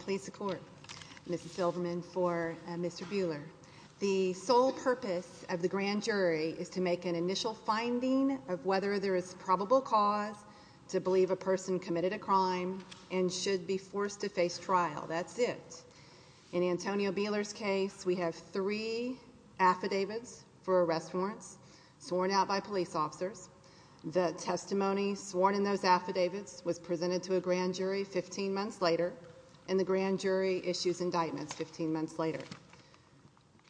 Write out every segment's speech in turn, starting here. Austin Police, e The sole purpose of the grand jury is to make an initial finding of whether there is a probable cause to believe a person committed a crime and should be forced to face trial. That's it. In Antonio Buehler's case, we have three affidavits for arrest warrants sworn out by police officers. The testimony sworn in those affidavits was presented to a grand jury issued an indictment 15 months later.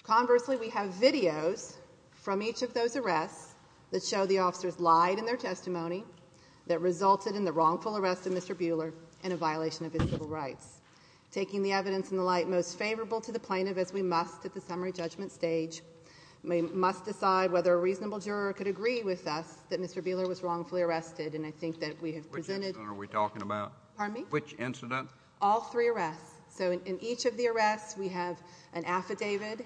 Conversely, we have videos from each of those arrests that show the officers lied in their testimony, that resulted in the wrongful arrest of Mr. Buehler and a violation of his civil rights. Taking the evidence in the light most favorable to the plaintiff as we must at the summary judgment stage, we must decide whether a reasonable juror could agree with us that Mr. Buehler was wrongfully arrested and I think that we have presented... So in each of the arrests, we have an affidavit.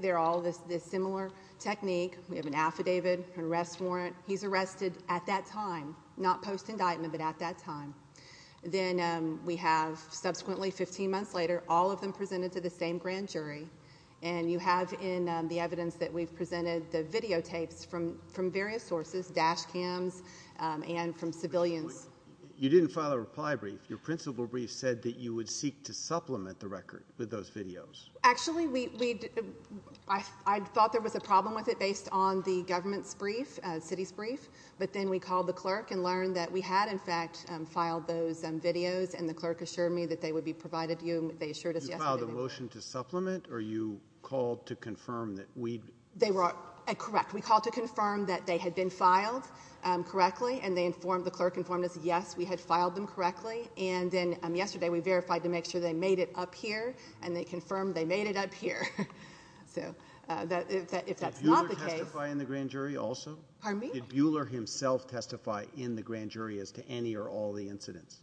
They're all this similar technique. We have an affidavit, an arrest warrant. He's arrested at that time. Not post indictment but at that time. Then we have subsequently 15 months later all of them presented to the same grand jury and you have in the evidence that we've presented the videotapes from various sources, dash cams and from civilians. You didn't file a reply brief. Your principal brief said that you would seek to supplement the record with those videos. Actually, I thought there was a problem with it based on the government's brief, city's brief, but then we called the clerk and learned that we had in fact filed those videos and the clerk assured me that they would be provided to you. They assured us yesterday. You filed a motion to supplement or you called to confirm that we... They were correct. We called to confirm that they had been filed correctly and they informed, the clerk informed us, yes, we had filed them correctly and then yesterday we verified to make sure they made it up here and they confirmed they made it up here. If that's not the case... Did Buhler testify in the grand jury also? Pardon me? Did Buhler himself testify in the grand jury as to any or all of the incidents?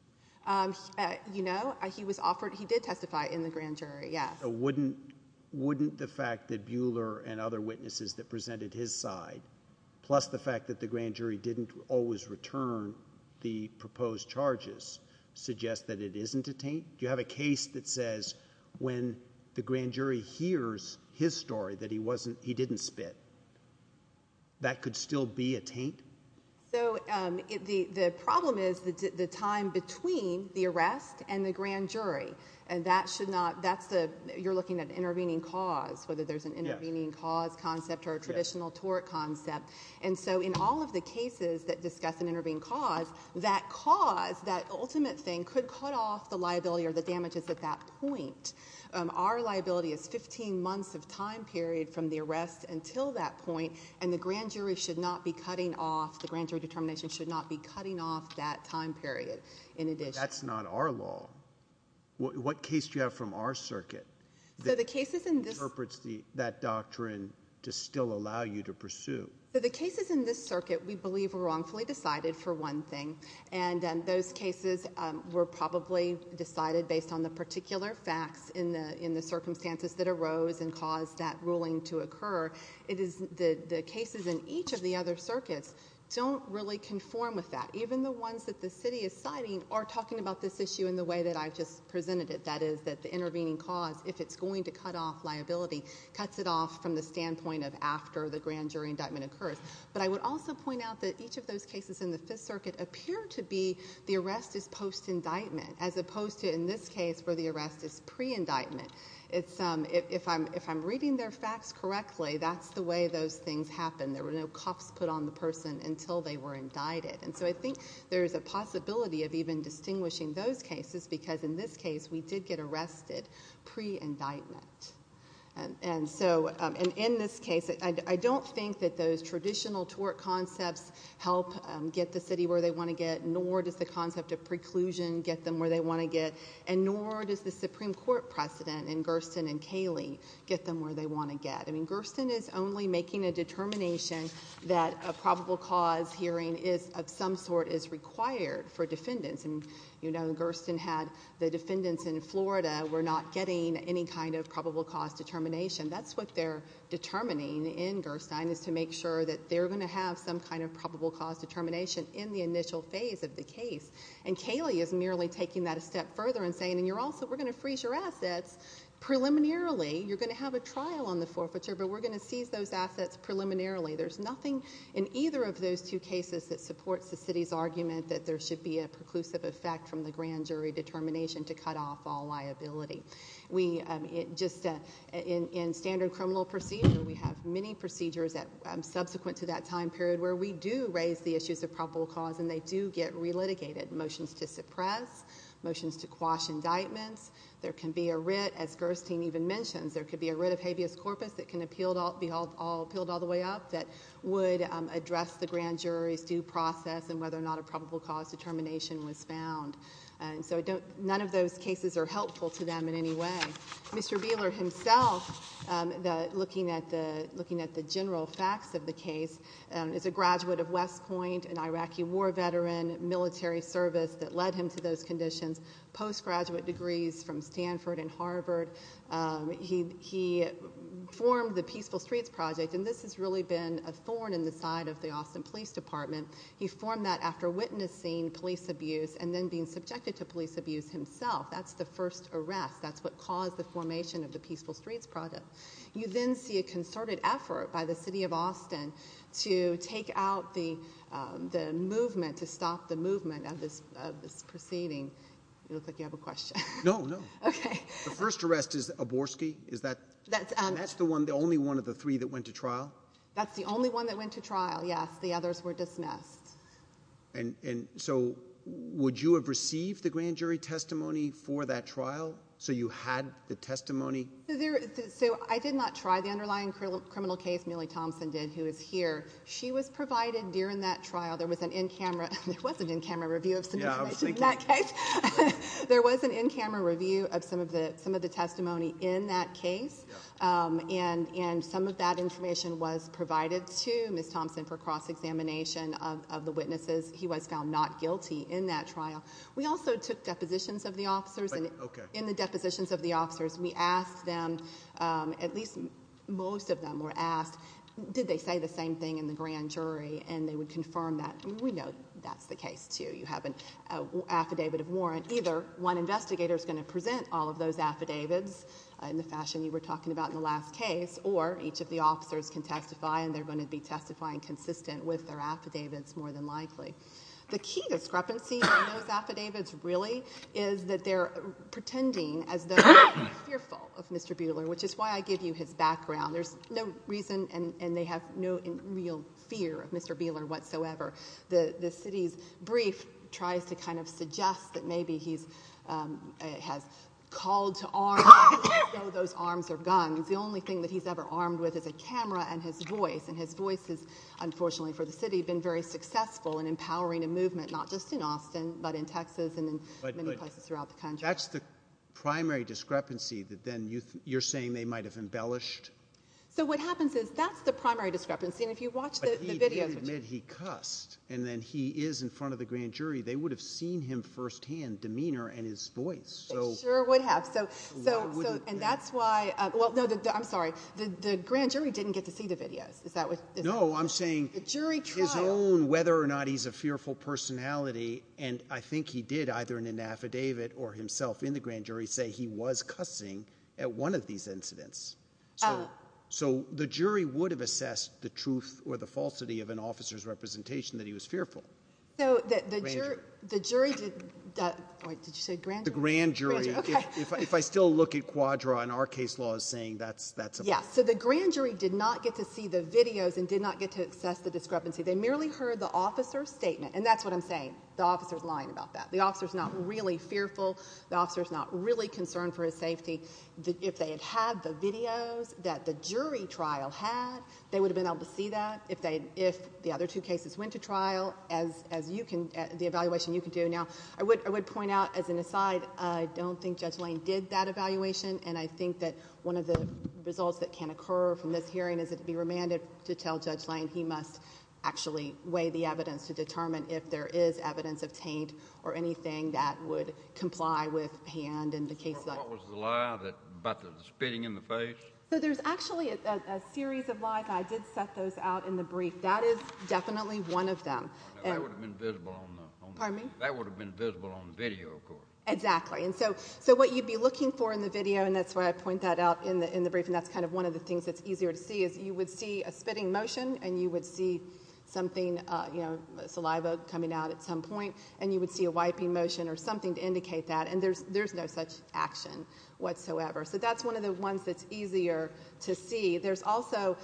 You know, he did testify in the grand jury, yes. Wouldn't the fact that Buhler and other witnesses that presented his side plus the fact that the grand jury didn't always return the proposed charges suggest that it isn't a taint? Do you have a case that says when the grand jury hears his story that he wasn't, he didn't spit, that could still be a taint? So the problem is the time between the arrest and the grand jury and that should not, that's the, you're looking at intervening cause, whether there's an intervening cause concept or a traditional tort concept and so in all of the cases that discuss an intervening cause, that cause, that ultimate thing could cut off the liability or the damages at that point. Our liability is 15 months of time period from the arrest until that point and the grand jury should not be cutting off, the grand jury determination should not be cutting off that time period in addition. That's not our law. What case do you have from our circuit that interprets that doctrine to still allow you to pursue? The cases in this circuit we believe were wrongfully decided for one thing and those cases were probably decided based on the particular facts in the circumstances that arose and caused that ruling to occur. It is the cases in each of the other circuits don't really conform with that. Even the ones that the city is citing are talking about this issue in the way that I just presented it. That is that the intervening cause, if it's going to cut off liability, cuts it off from the standpoint of after the grand jury indictment occurs. But I would also point out that each of those cases in the fifth circuit appear to be the arrest is post-indictment as opposed to in this case where the arrest is pre-indictment. If I'm reading their facts correctly, that's the way those things happen. There were no cops put on the person until they were indicted. I think there's a possibility of even distinguishing those cases because in this case we did get arrested pre-indictment. And so in this case, I don't think that those traditional tort concepts help get the city where they want to get, nor does the concept of preclusion get them where they want to get, and nor does the Supreme Court precedent in Gersten and Kaylee get them where they want to get. Gersten is only making a determination that a probable cause hearing is of some sort is required for defendants. You know, Gersten had the defendants in Florida were not getting any kind of probable cause determination. That's what they're determining in Gersten is to make sure that they're going to have some kind of probable cause determination in the initial phase of the case and Kaylee is merely taking that a step further and saying we're going to freeze your assets preliminarily. You're going to have a trial on the forfeiture but we're going to seize those assets preliminarily. There's nothing in either of those two cases that supports the city's argument that there should be a preclusive effect from the grand jury determination to cut off all liability. Just in standard criminal procedure, we have many procedures that subsequent to that time period where we do raise the issues of probable cause and they do get relitigated, motions to suppress, motions to quash indictments. There can be a writ as Gersten even mentions, a writ of habeas corpus that can be appealed all the way up that would address the grand jury's due process and whether or not a probable cause determination was found. So none of those cases are helpful to them in any way. Mr. Beeler himself, looking at the general facts of the case, is a graduate of west point, an Iraqi war veteran, military service that led him to those conditions, post graduate degrees from Stanford and Harvard. He formed the peaceful streets project and this has really been a thorn in the side of the Austin police department. He formed that after witnessing police abuse and then being subjected to police abuse himself. That's the first arrest. That's what caused the formation of the peaceful streets project. You then see a concerted effort by the city of Austin to take out the movement, to stop the movement of this proceeding. Looks like you have a question. No, no. Okay. The first arrest is Aborski. That's the only one of the three that went to trial? That's the only one that went to trial, yes. The others were dismissed. And so would you have received the grand jury testimony for that trial so you had the testimony? So I did not try. The underlying criminal case I did not try. The case Millie Thompson did, who is here, she was provided during that trial. There was an in-camera review of some information in that case. There was an in-camera review of some of the testimony in that case, and some of that information was provided to miss Thompson for cross examination of the witnesses. He was found not guilty in that trial. We also took depositions of the officers. In the depositions of the officers, we asked them, at least most of them were asked, did they say the same thing in the grand jury, and they would confirm that. We know that's the case, too. You have an affidavit of warrant. Either one investigator is going to present all of those affidavits in the fashion you were talking about in the last case, or each of the officers can testify and they're going to be testifying consistent with their affidavits more than likely. The key discrepancy in those affidavits really is that they're pretending as though they're fearful of Mr. Buehler, which is why I give you his background. There's no reason, and they have no real fear of Mr. Buehler whatsoever. The city's brief tries to kind of suggest that maybe he has called to arms, and we know those arms are guns. The only thing he's ever armed with is a camera and his voice, and his voice has, unfortunately for the city, been very successful in empowering a movement, not just in Austin but in Texas and many places throughout the country. That's the primary discrepancy that then you're saying they might have embellished? So what happens is that's the primary discrepancy, and if you watch the videos... But he did admit he cussed, and then he is in front of the grand jury. They would have seen him firsthand, demeanor and his voice. They sure would have. And that's why... Well, no, I'm sorry. The grand jury didn't get to see the videos. Is that what... No, I'm saying his own, whether or not he's a fearful personality, and I think he did either in an affidavit or himself in the grand jury say he was cussing at one of these incidents. So the jury would have assessed the truth or the falsity of an officer's representation that he was fearful. So the jury did... Wait. Did you say grand jury? The grand jury. Okay. If I still look at quadra and our case law is saying that's a false... Yeah. So the grand jury did not get to see the videos and did not get to assess the discrepancy. They merely heard the officer's saying the officer is lying about that. The officer is not really fearful. The officer is not really concerned for his safety. If they had had the videos that the jury trial had, they would have been able to see that. If the other two cases went to trial, as you can... The evaluation you can do. Now, I would point out as an aside, I don't think Judge Lane did that evaluation, and I think that one of the results that can occur from this hearing is it be remanded to tell Judge Lane he must actually weigh the evidence to determine if there is evidence of taint or anything that would comply with hand in the case that... What was the lie about the spitting in the face? There's actually a series of lies and I did set those out in the brief. That is definitely one of them. Pardon me? That would have been visible on the video, of course. Exactly. So what you would be looking for in the video, and that's why I point that out in the brief, and that's one of the things that's important. You would see a spitting motion and you would see something, you know, saliva coming out at some point, and you would see a wiping motion or something to indicate that, and there's no such action whatsoever. So that's one of the ones that's easier to see. There's also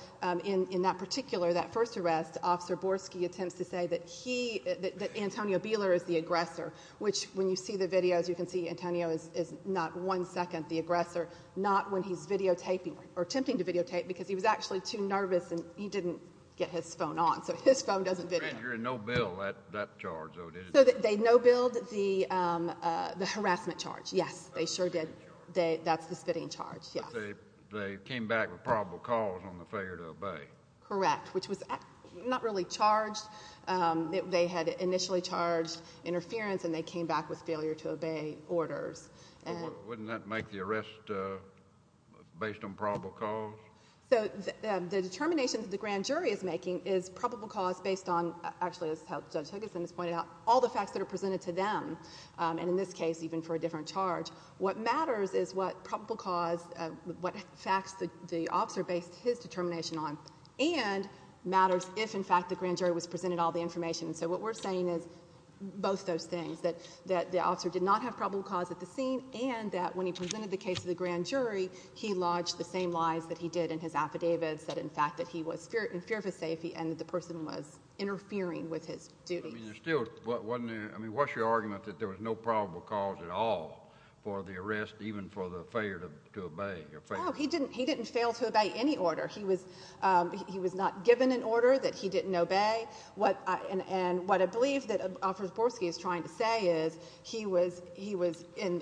in that particular, that first arrest, officer Borski attempts to say that he, that Antonio Beeler is the aggressor, which when you see the videos, you can see Antonio is not one second the aggressor, not when he's videotaping or attempting to videotape because he was actually too nervous and he didn't get his phone on, so his phone doesn't video. You're in no bill that charge, though, did you? They no billed the harassment charge, yes. They sure did. That's the spitting charge, yes. But they came back with probable cause on the failure to obey. Correct, which was not really charged. They had initially charged interference and they came back with failure to obey orders. Wouldn't that make the arrest based on probable cause? So the determination that the grand jury is making is probable cause based on, actually, as Judge Huggins has pointed out, all the facts that are presented to them, and in this case even for a different charge. What matters is what probable cause, what facts the officer based his determination on and matters if, in fact, the grand jury was presented all the information. So what we're saying is both those things, that the officer did not have probable cause at the scene and that when he presented the case to the grand jury, he lodged the same lies that he did in his affidavits, that, in fact, that he was in fear of his safety and that the person was interfering with his duty. I mean, what's your argument that there was no probable cause at all for the arrest even for the failure to obey? Oh, he didn't fail to obey any order. He was not given an order that he didn't obey. And what I believe that Ofersborsky is trying to say is that he was in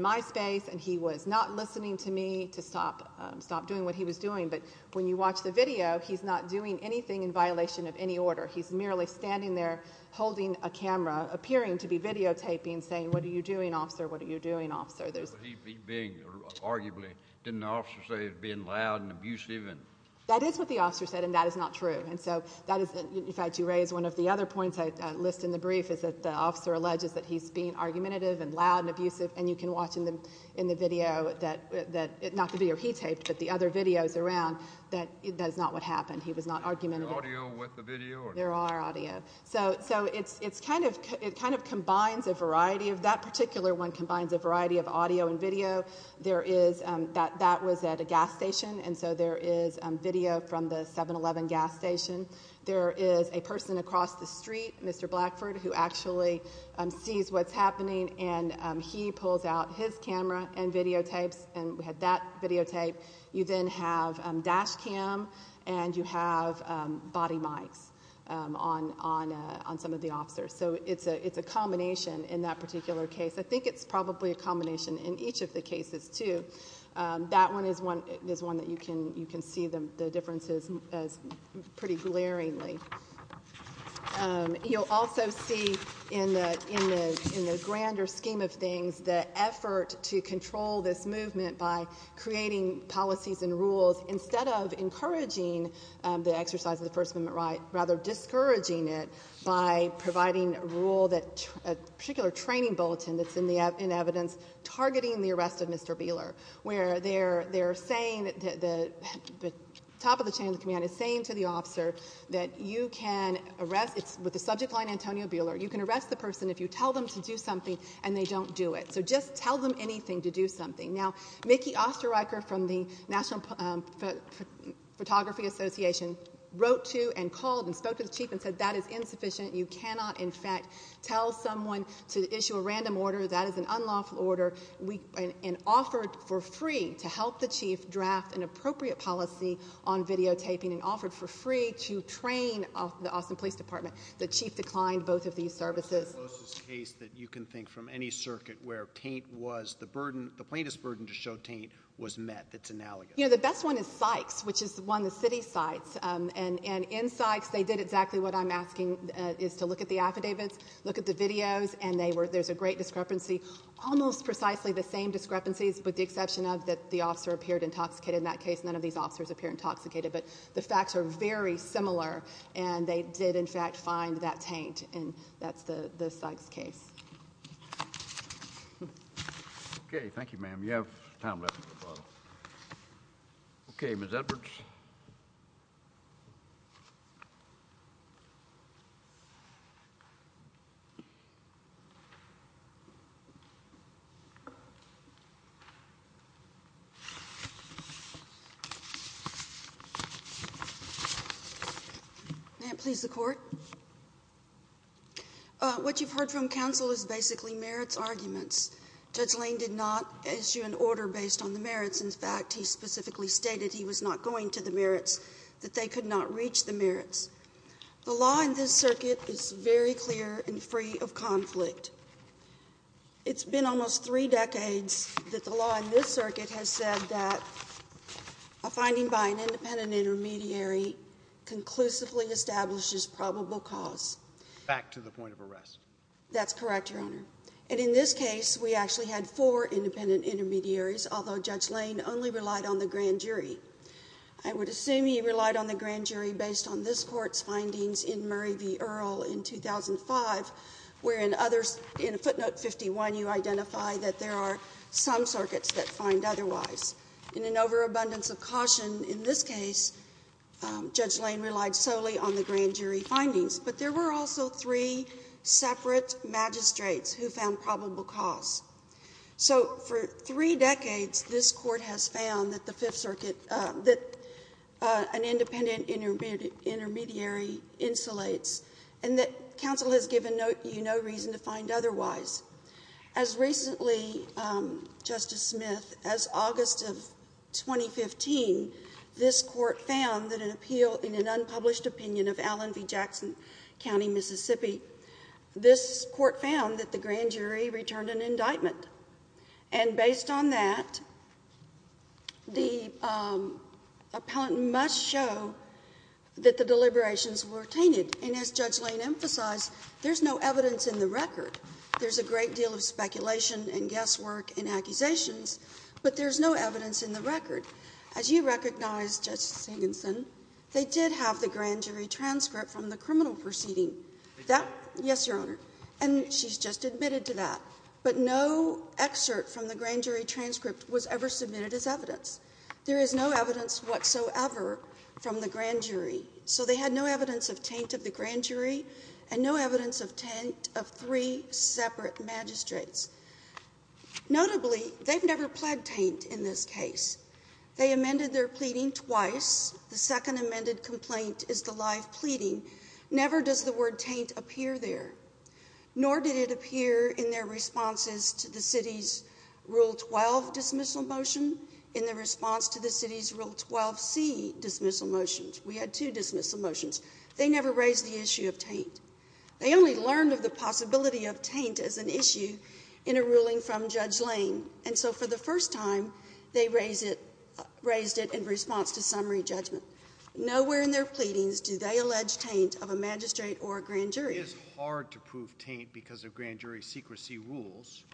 my space and he was not listening to me to stop doing what he was doing. But when you watch the video, he's not doing anything in violation of any order. He's merely standing there holding a camera, appearing to be videotaping, saying what are you doing, officer? What are you doing, officer? He's being arguably, didn't the officer say he was being loud and abusive? That is what the officer said and that is not true. And so that is, in fact, you raised one of the other points I list in the brief is that the officer alleges that he's being argumentative and loud and abusive and you can watch in the video that not the video he taped but the other videos around, that is not what happened. He was not argumentative. There are audio. So it's kind of combines a variety of that particular one combines a variety of audio and video. There is that was at a gas station and so there is video from the 7-Eleven gas station. There is a person across the street who sees what's happening and he pulls out his camera and videotapes and we had that videotape. You then have dash cam and you have body mics on some of the officers. So it's a combination in that particular case. I think it's probably a combination in each of the cases too. That one is one that you can see the differences pretty glaringly. You'll also see in the grander scheme of things the effort to control this movement by creating policies and rules instead of encouraging the exercise of the first amendment right, rather discouraging it by providing a rule that a particular training bulletin that's in evidence targeting the arrest of Mr. Beeler where they're saying that the top of the chain of command is saying to the officer that you have been arrested. It's with the subject line Antonio Beeler. You can arrest the person if you tell them to do something and they don't do it. So just tell them anything to do something. Now, Mickey Osterreicher from the national photography association wrote to and called and spoke to the chief and said that is insufficient. You cannot in fact tell someone to issue a random order. That is an unlawful order and offered for free to help the chief draft an appropriate policy on videotaping and offered for free to train the Austin police department. The chief declined both of these services. The case that you can think from any circuit where taint was the plaintiff's burden to show taint was met. It's analogous. The best one is Sykes which is one of the city sites and in Sykes they did exactly what I'm asking is to look at the affidavits, look at the videos and there's a great discrepancy almost precisely the same discrepancies with the exception of that the officer appeared intoxicated. In that case none of these officers appear intoxicated but the facts are very similar and they did in fact find that taint and that's the Sykes case. Thank you. Thank you. Okay. Thank you ma'am. You have time left. Okay. Ms. Edwards. May it please the court. What you've heard from counsel is basically merits arguments. Judge Lane did not issue an order based on the merits, in fact he specifically stated he was not going to the merits, that they could not reach the merits. The law in this circuit is very clear and free of conflict. It's been almost three decades that the law in this circuit has said that a finding by an independent intermediary conclusively establishes probable cause. Back to the point of arrest. That's correct, your honor. And in this case, we actually had four independent intermediaries, although Judge Lane only relied on the grand jury. I would assume he relied on the grand jury based on this court's findings in Murray v. Earle in 2005, where in footnote 51 you identify that there are some circuits that find otherwise. In an overabundance of caution in this case, Judge Lane relied solely on the grand jury findings. But there were also three separate magistrates who found probable cause. So for three decades, this court has found that an independent intermediary insulates and that counsel has given you no reason to find otherwise. As recently, Justice Smith, as August of 2015, this court found that an appeal in an unpublished opinion of Allen v. Jackson County, Mississippi, this court found that the grand jury returned an indictment. And based on that, the appellant must show that the deliberations were tainted. And as Judge Lane emphasized, there's no evidence in the record. There's a great deal of speculation and guesswork and accusations, but there's no evidence in the record. As you recognize, Justice Higginson, they did have the grand jury transcript from the criminal proceeding. Yes, your honor. And she's just admitted to that. But no excerpt from the grand jury transcript was ever submitted as evidence. There is no evidence whatsoever from the grand jury. So they had no evidence of taint of the grand jury and no evidence of taint of three separate magistrates. Notably, they've never pled taint in this case. They amended their pleading twice. The second amended complaint is the live pleading. Never does the word taint appear there. Nor did it appear in their responses to the city's Rule 12 dismissal motion, in the response to the city's Rule 12C dismissal motions. We had two dismissal motions. They never raised the issue of taint. They only learned of the possibility of taint as an issue in a ruling from Judge Lane. And so for the first time, they raised it in response to summary judgment. Nowhere in their pleadings do they allege taint of a magistrate or a grand jury. It is hard to prove taint because of grand jury secrecy rules.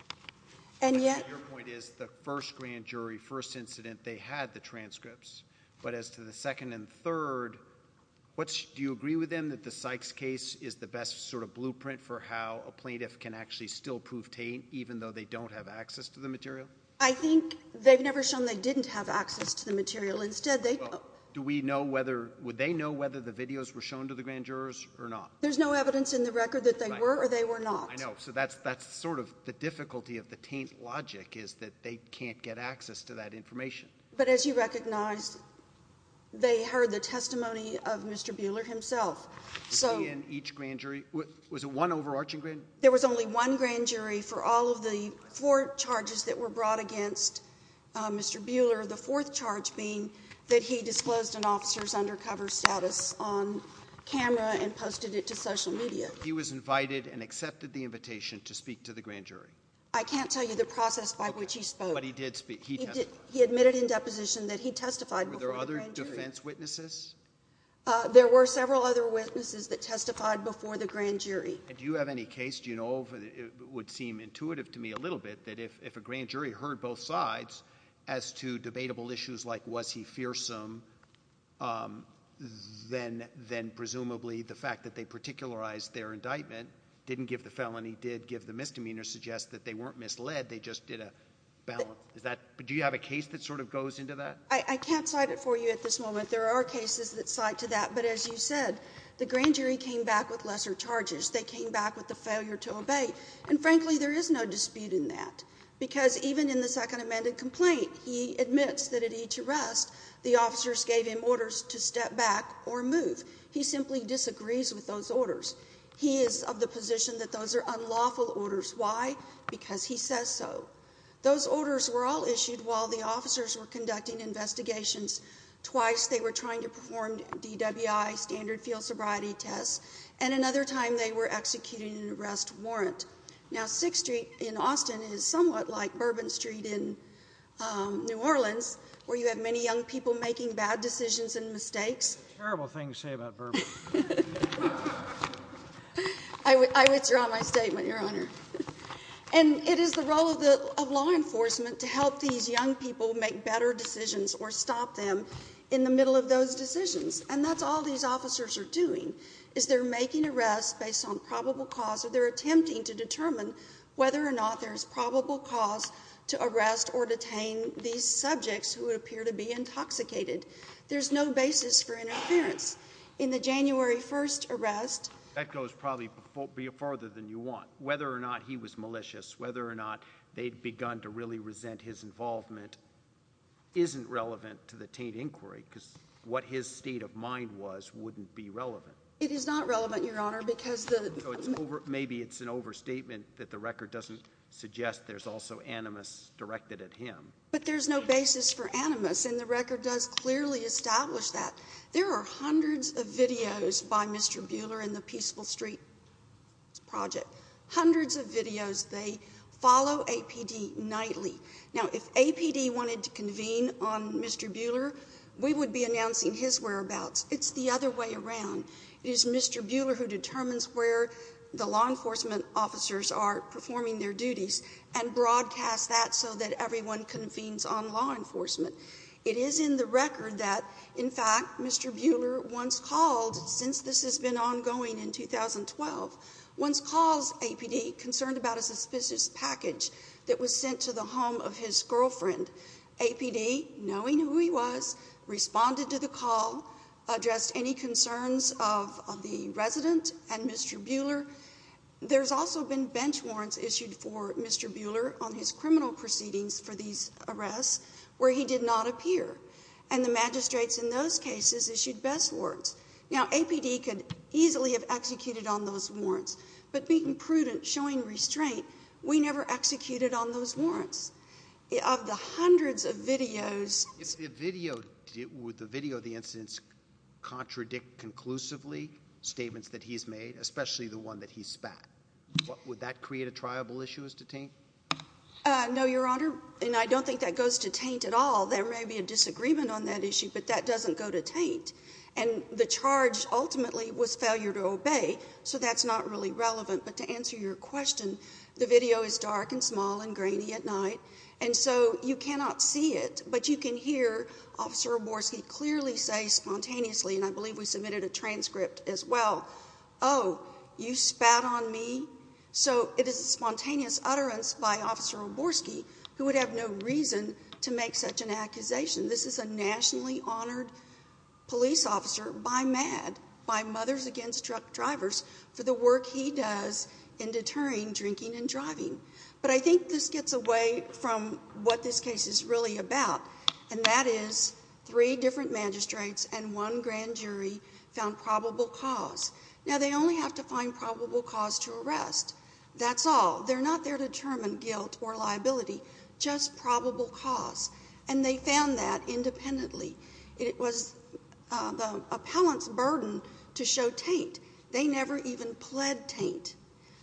And yet- Your point is the first grand jury, first incident, they had the transcripts. But as to the second and third, do you agree with them that the Sykes case is the best sort of blueprint for how a plaintiff can actually still prove taint, even though they don't have access to the material? I think they've never shown they didn't have access to the material. Instead, they- Well, do we know whether, would they know whether the videos were shown to the grand jurors or not? There's no evidence in the record that they were or they were not. I know. So that's sort of the difficulty of the taint logic is that they can't get access to that information. But as you recognize, they heard the testimony of Mr. Buehler himself. So- Was he in each grand jury? Was it one overarching grand jury? There was only one grand jury for all of the four charges that were brought against Mr. Buehler. The fourth charge being that he disclosed an officer's undercover status on camera and posted it to social media. He was invited and accepted the invitation to speak to the grand jury. I can't tell you the process by which he spoke. But he did speak, he testified. He admitted in deposition that he testified before the grand jury. Were there other defense witnesses? There were several other witnesses that testified before the grand jury. And do you have any case, do you know, would seem intuitive to me a little bit, that if a grand jury heard both sides as to debatable issues like was he fearsome, then presumably the fact that they particularized their indictment, didn't give the felony, did give the misdemeanor, suggests that they weren't misled, they just did a balance. Do you have a case that sort of goes into that? I can't cite it for you at this moment. There are cases that cite to that. But as you said, the grand jury came back with lesser charges. They came back with the failure to obey. And frankly, there is no dispute in that. Because even in the second amended complaint, he admits that at each arrest, the officers gave him orders to step back or move. He simply disagrees with those orders. He is of the position that those are unlawful orders. Why? Because he says so. Those orders were all issued while the officers were conducting investigations. Twice, they were trying to perform DWI, standard field sobriety tests. And another time, they were executing an arrest warrant. Now, 6th Street in Austin is somewhat like Bourbon Street in New Orleans, where you have many young people making bad decisions and mistakes. Terrible thing to say about Bourbon. I withdraw my statement, Your Honor. And it is the role of law enforcement to help these young people make better decisions or stop them in the middle of those decisions. And that's all these officers are doing. Is they're making arrests based on probable cause or they're attempting to determine whether or not there's probable cause to arrest or detain these subjects who appear to be intoxicated. There's no basis for interference. In the January 1st arrest. That goes probably further than you want. Whether or not he was malicious, whether or not they'd begun to really resent his involvement isn't relevant to the Taint Inquiry because what his state of mind was wouldn't be relevant. It is not relevant, Your Honor, because the... Maybe it's an overstatement that the record doesn't suggest there's also animus directed at him. But there's no basis for animus and the record does clearly establish that. There are hundreds of videos by Mr. Buehler in the Peaceful Street Project. Hundreds of videos. They follow APD nightly. Now, if APD wanted to convene on Mr. Buehler, we would be announcing his whereabouts. It's the other way around. It is Mr. Buehler who determines where the law enforcement officers are performing their duties and broadcast that so that everyone convenes on law enforcement. It is in the record that, in fact, Mr. Buehler once called, since this has been ongoing in the home of his girlfriend, APD, knowing who he was, responded to the call, addressed any concerns of the resident and Mr. Buehler. There's also been bench warrants issued for Mr. Buehler on his criminal proceedings for these arrests where he did not appear. And the magistrates in those cases issued best warrants. Now, APD could easily have executed on those warrants, but being prudent, showing restraint, we never executed on those warrants. Of the hundreds of videos... If the video, would the video of the incidents contradict conclusively statements that he's made, especially the one that he spat, would that create a triable issue as to taint? No, Your Honor, and I don't think that goes to taint at all. There may be a disagreement on that issue, but that doesn't go to taint. And the charge ultimately was failure to obey, so that's not really relevant. But to answer your question, the video is dark and small and grainy at night, and so you cannot see it, but you can hear Officer Oborsky clearly say spontaneously, and I believe we submitted a transcript as well, oh, you spat on me? So it is a spontaneous utterance by Officer Oborsky, who would have no reason to make such an accusation. This is a nationally honored police officer by MADD, by Mothers Against Truck Drivers, for the work he does in deterring drinking and driving. But I think this gets away from what this case is really about, and that is three different magistrates and one grand jury found probable cause. Now they only have to find probable cause to arrest. That's all. They're not there to determine guilt or liability, just probable cause. And they found that independently. It was the appellant's burden to show taint. They never even pled taint,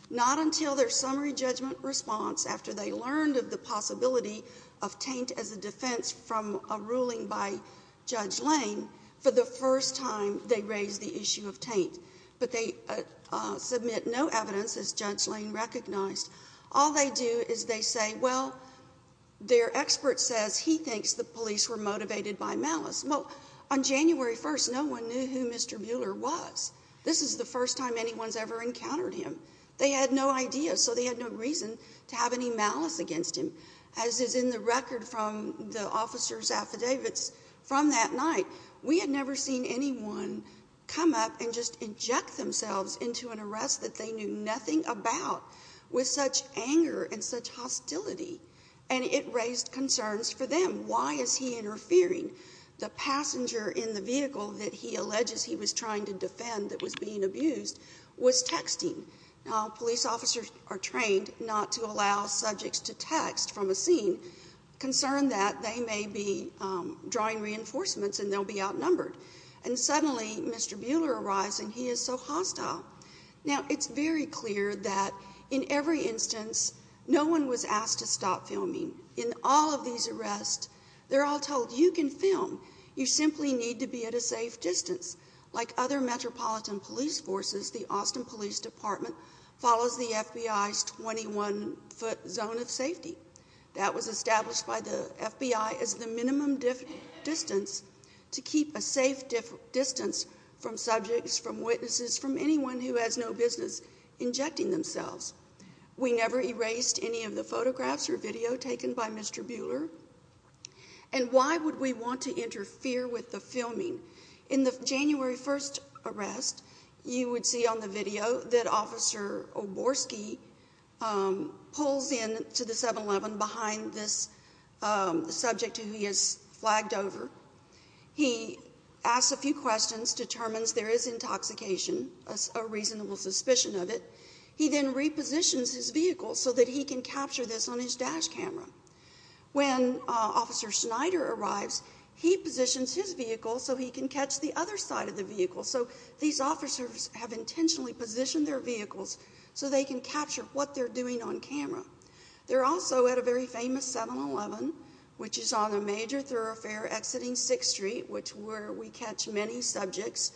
not until their summary judgment response, after they learned of the possibility of taint as a defense from a ruling by Judge Lane, for the first time they raised the issue of taint. But they submit no evidence, as Judge Lane recognized. All they do is they say, well, their expert says he thinks the police were motivated by malice. Well, on January 1st, no one knew who Mr. Mueller was. This is the first time anyone's ever encountered him. They had no idea, so they had no reason to have any malice against him. As is in the record from the officer's affidavits from that night, we had never seen anyone come up and just inject themselves into an arrest that they knew nothing about, with such anger and such hostility. And it raised concerns for them. Why is he interfering? The passenger in the vehicle that he alleges he was trying to defend, that was being abused, was texting. Now, police officers are trained not to allow subjects to text from a scene, concerned that they may be drawing reinforcements and they'll be outnumbered. And suddenly, Mr. Mueller arrives and he is so hostile. Now, it's very clear that in every instance, no one was asked to stop filming. In all of these arrests, they're all told, you can film. You simply need to be at a safe distance. Like other metropolitan police forces, the Austin Police Department follows the FBI's 21-foot zone of safety. That was established by the FBI as the minimum distance to keep a safe distance from subjects, from witnesses, from anyone who has no business injecting themselves. We never erased any of the photographs or video taken by Mr. Mueller. And why would we want to interfere with the filming? In the January 1st arrest, you would see on the video that Officer Oborsky pulls in to the 7-Eleven behind this subject who he has flagged over. He asks a few questions, determines there is intoxication, a reasonable suspicion of it. He then repositions his vehicle so that he can capture this on his dash camera. When Officer Schneider arrives, he positions his vehicle so he can catch the other side of the vehicle. So, these officers have intentionally positioned their vehicles so they can capture what they're doing on camera. They're also at a very famous 7-Eleven, which is on a major thoroughfare exiting 6th Street, which is where we catch many subjects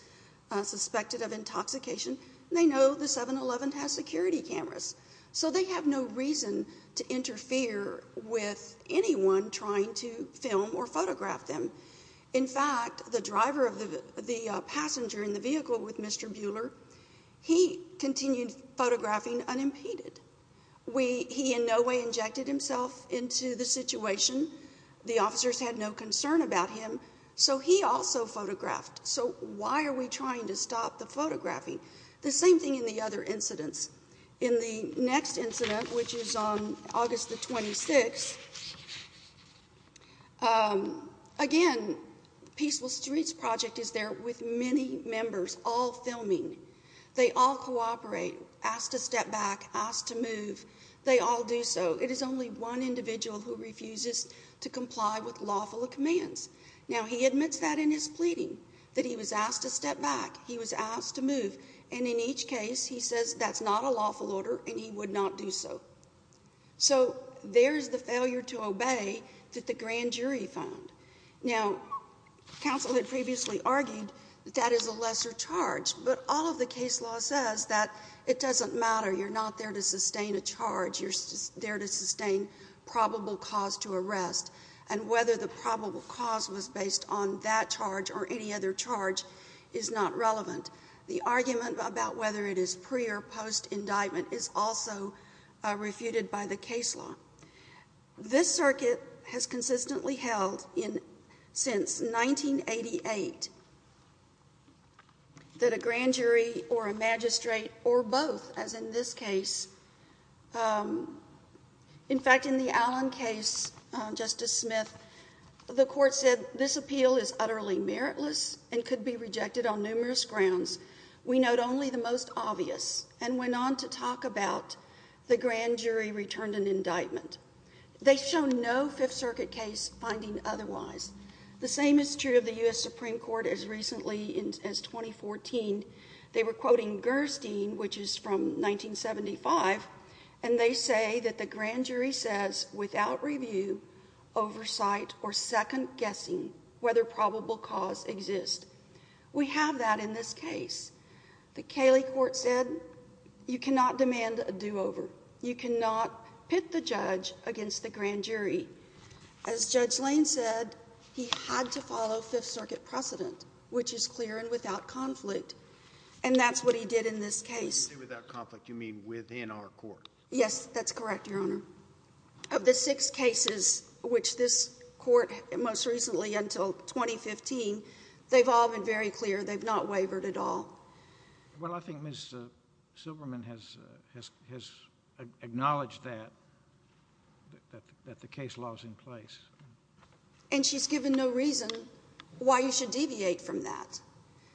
suspected of intoxication. They know the 7-Eleven has security cameras, so they have no reason to interfere with anyone trying to film or photograph them. In fact, the driver of the passenger in the vehicle with Mr. Mueller, he continued photographing unimpeded. He in no way injected himself into the situation. The officers had no concern about him, so he also photographed. So, why are we trying to stop the photographing? The same thing in the other incidents. In the next incident, which is on August the 26th, again, Peaceful Streets Project is there with many members, all filming. They all cooperate, ask to step back, ask to move. They all do so. It is only one individual who refuses to comply with lawful commands. Now, he admits that in his pleading, that he was asked to step back, he was asked to move, and in each case, he says that's not a lawful order and he would not do so. So, there's the failure to obey that the grand jury found. Now, counsel had previously argued that that is a lesser charge, but all of the case law says that it doesn't matter, you're not there to sustain a charge, you're there to sustain probable cause to arrest, and whether the probable cause was based on that charge or any other charge is not relevant. The argument about whether it is pre- or post-indictment is also refuted by the case law. This circuit has consistently held since 1988 that a grand jury or a magistrate or both, as in this case, in fact, in the Allen case, Justice Smith, the court said, this appeal is utterly meritless and could be rejected on numerous grounds. We note only the most obvious, and went on to talk about the grand jury returned an indictment. They show no Fifth Circuit case finding otherwise. The same is true of the U.S. Supreme Court as recently as 2014. They were quoting Gerstein, which is from 1975, and they say that the grand jury says without review, oversight, or second guessing whether probable cause exists. We have that in this case. The Cayley court said you cannot demand a do-over. You cannot pit the judge against the grand jury. As Judge Lane said, he had to follow Fifth Circuit precedent, which is clear and without conflict. And that's what he did in this case. When you say without conflict, you mean within our court? Yes, that's correct, Your Honor. Of the six cases which this court, most recently until 2015, they've all been very clear. They've not wavered at all. Well, I think Ms. Silverman has acknowledged that, that the case law is in place. And she's given no reason why you should deviate from that.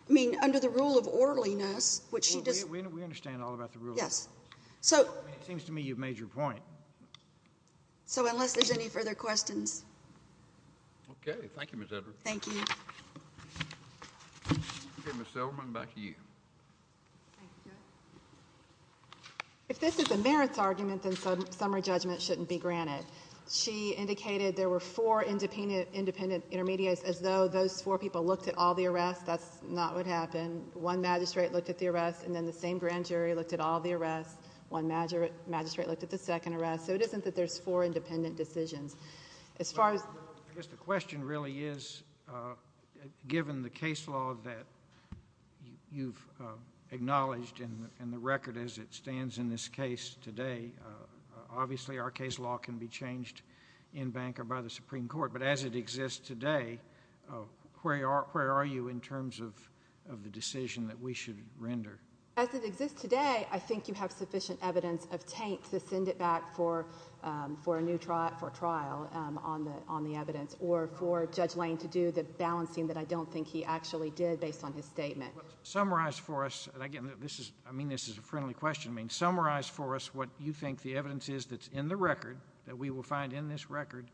I mean, under the rule of orderliness, which she does— Well, we understand all about the rule of order. Yes. So— I mean, it seems to me you've made your point. So unless there's any further questions— Okay. Thank you, Ms. Edwards. Thank you. Okay, Ms. Silverman, back to you. Thank you. If this is a merits argument, then summary judgment shouldn't be granted. She indicated there were four independent intermediaries, as though those four people looked at all the arrests. That's not what happened. One magistrate looked at the arrests, and then the same grand jury looked at all the arrests. One magistrate looked at the second arrest. So it isn't that there's four independent decisions. As far as— Well, I guess the question really is, given the case law that you've acknowledged in the record as it stands in this case today, obviously our case law can be changed in bank or by the Supreme Court, but as it exists today, where are you in terms of the decision that we should render? As it exists today, I think you have sufficient evidence of taint to send it back for a new evidence, or for Judge Lane to do the balancing that I don't think he actually did based on his statement. Summarize for us—and again, I mean this as a friendly question—summarize for us what you think the evidence is that's in the record, that we will find in this record,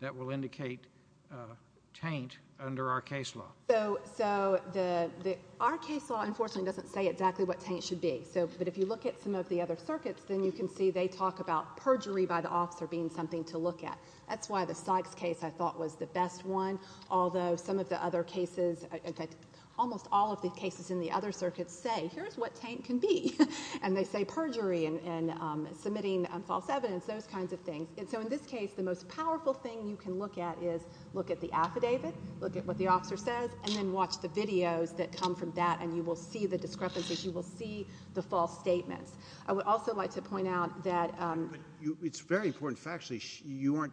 that will indicate taint under our case law. Our case law, unfortunately, doesn't say exactly what taint should be, but if you look at some of the other circuits, then you can see they talk about perjury by the officer being something to look at. That's why the Sykes case, I thought, was the best one, although some of the other cases—almost all of the cases in the other circuits say, here's what taint can be, and they say perjury and submitting false evidence, those kinds of things, and so in this case, the most powerful thing you can look at is look at the affidavit, look at what the officer says, and then watch the videos that come from that, and you will see the discrepancies, you will see the false statements. I would also like to point out that— I'm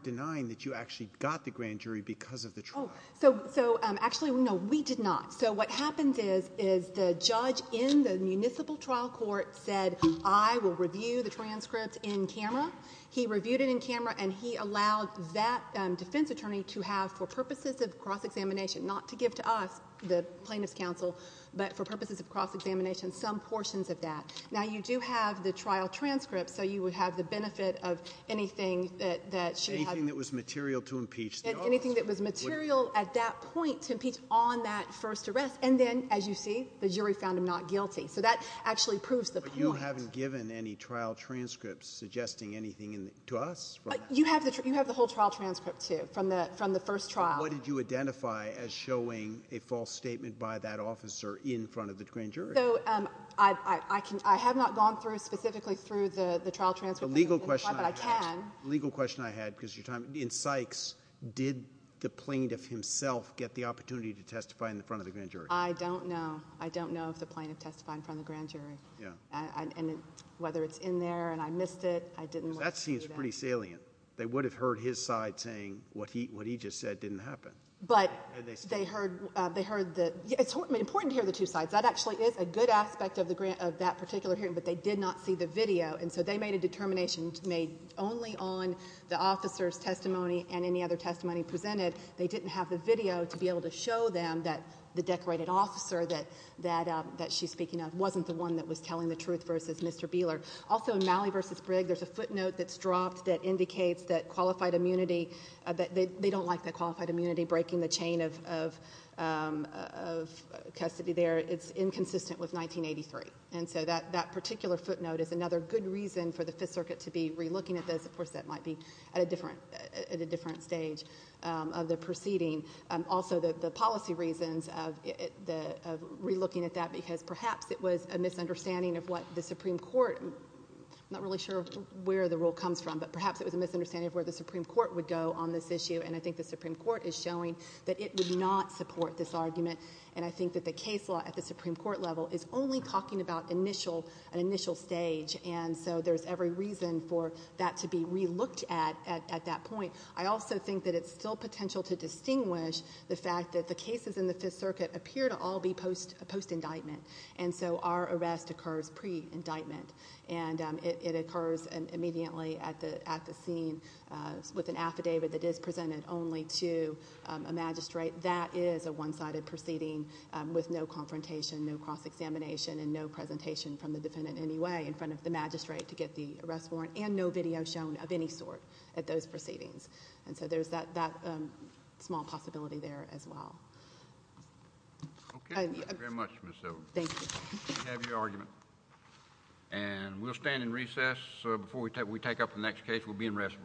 denying that you actually got the grand jury because of the trial. So actually, no, we did not. So what happened is, is the judge in the municipal trial court said, I will review the transcript in camera. He reviewed it in camera, and he allowed that defense attorney to have, for purposes of cross-examination, not to give to us, the plaintiff's counsel, but for purposes of cross-examination, some portions of that. Now, you do have the trial transcript, so you would have the benefit of anything that she had— Anything that was material to impeach the officer. Anything that was material, at that point, to impeach on that first arrest, and then, as you see, the jury found him not guilty. So that actually proves the point. But you haven't given any trial transcripts suggesting anything to us? You have the whole trial transcript, too, from the first trial. But what did you identify as showing a false statement by that officer in front of the grand jury? So, I have not gone through, specifically, through the trial transcript, but I can. The legal question I had, because of your time, in Sykes, did the plaintiff himself get the opportunity to testify in front of the grand jury? I don't know. I don't know if the plaintiff testified in front of the grand jury. Whether it's in there, and I missed it, I didn't. That seems pretty salient. They would have heard his side saying what he just said didn't happen. But they heard the—it's important to hear the two sides. That actually is a good aspect of that particular hearing, but they did not see the video, and so they made a determination made only on the officer's testimony and any other testimony presented. They didn't have the video to be able to show them that the decorated officer that she's speaking of wasn't the one that was telling the truth versus Mr. Beeler. Also, in Malley v. Brigg, there's a footnote that's dropped that indicates that qualified immunity—they don't like that qualified immunity breaking the chain of custody there. It's inconsistent with 1983. And so that particular footnote is another good reason for the Fifth Circuit to be re-looking at this. Of course, that might be at a different stage of the proceeding. Also, the policy reasons of re-looking at that because perhaps it was a misunderstanding of what the Supreme Court—I'm not really sure where the rule comes from, but perhaps it was a misunderstanding of where the Supreme Court would go on this issue, and I think the Supreme Court is showing that it would not support this argument, and I think that the case law at the Supreme Court level is only talking about an initial stage. And so there's every reason for that to be re-looked at at that point. I also think that it's still potential to distinguish the fact that the cases in the Fifth Circuit appear to all be post-indictment, and so our arrest occurs pre-indictment. And it occurs immediately at the scene with an affidavit that is presented only to a magistrate. That is a one-sided proceeding with no confrontation, no cross-examination, and no presentation from the defendant in any way in front of the magistrate to get the arrest warrant, and no video shown of any sort at those proceedings. And so there's that small possibility there as well. Okay. Thank you very much, Ms. Silver. Thank you. We have your argument, and we'll stand in recess. Before we take up the next case, we'll be in recess.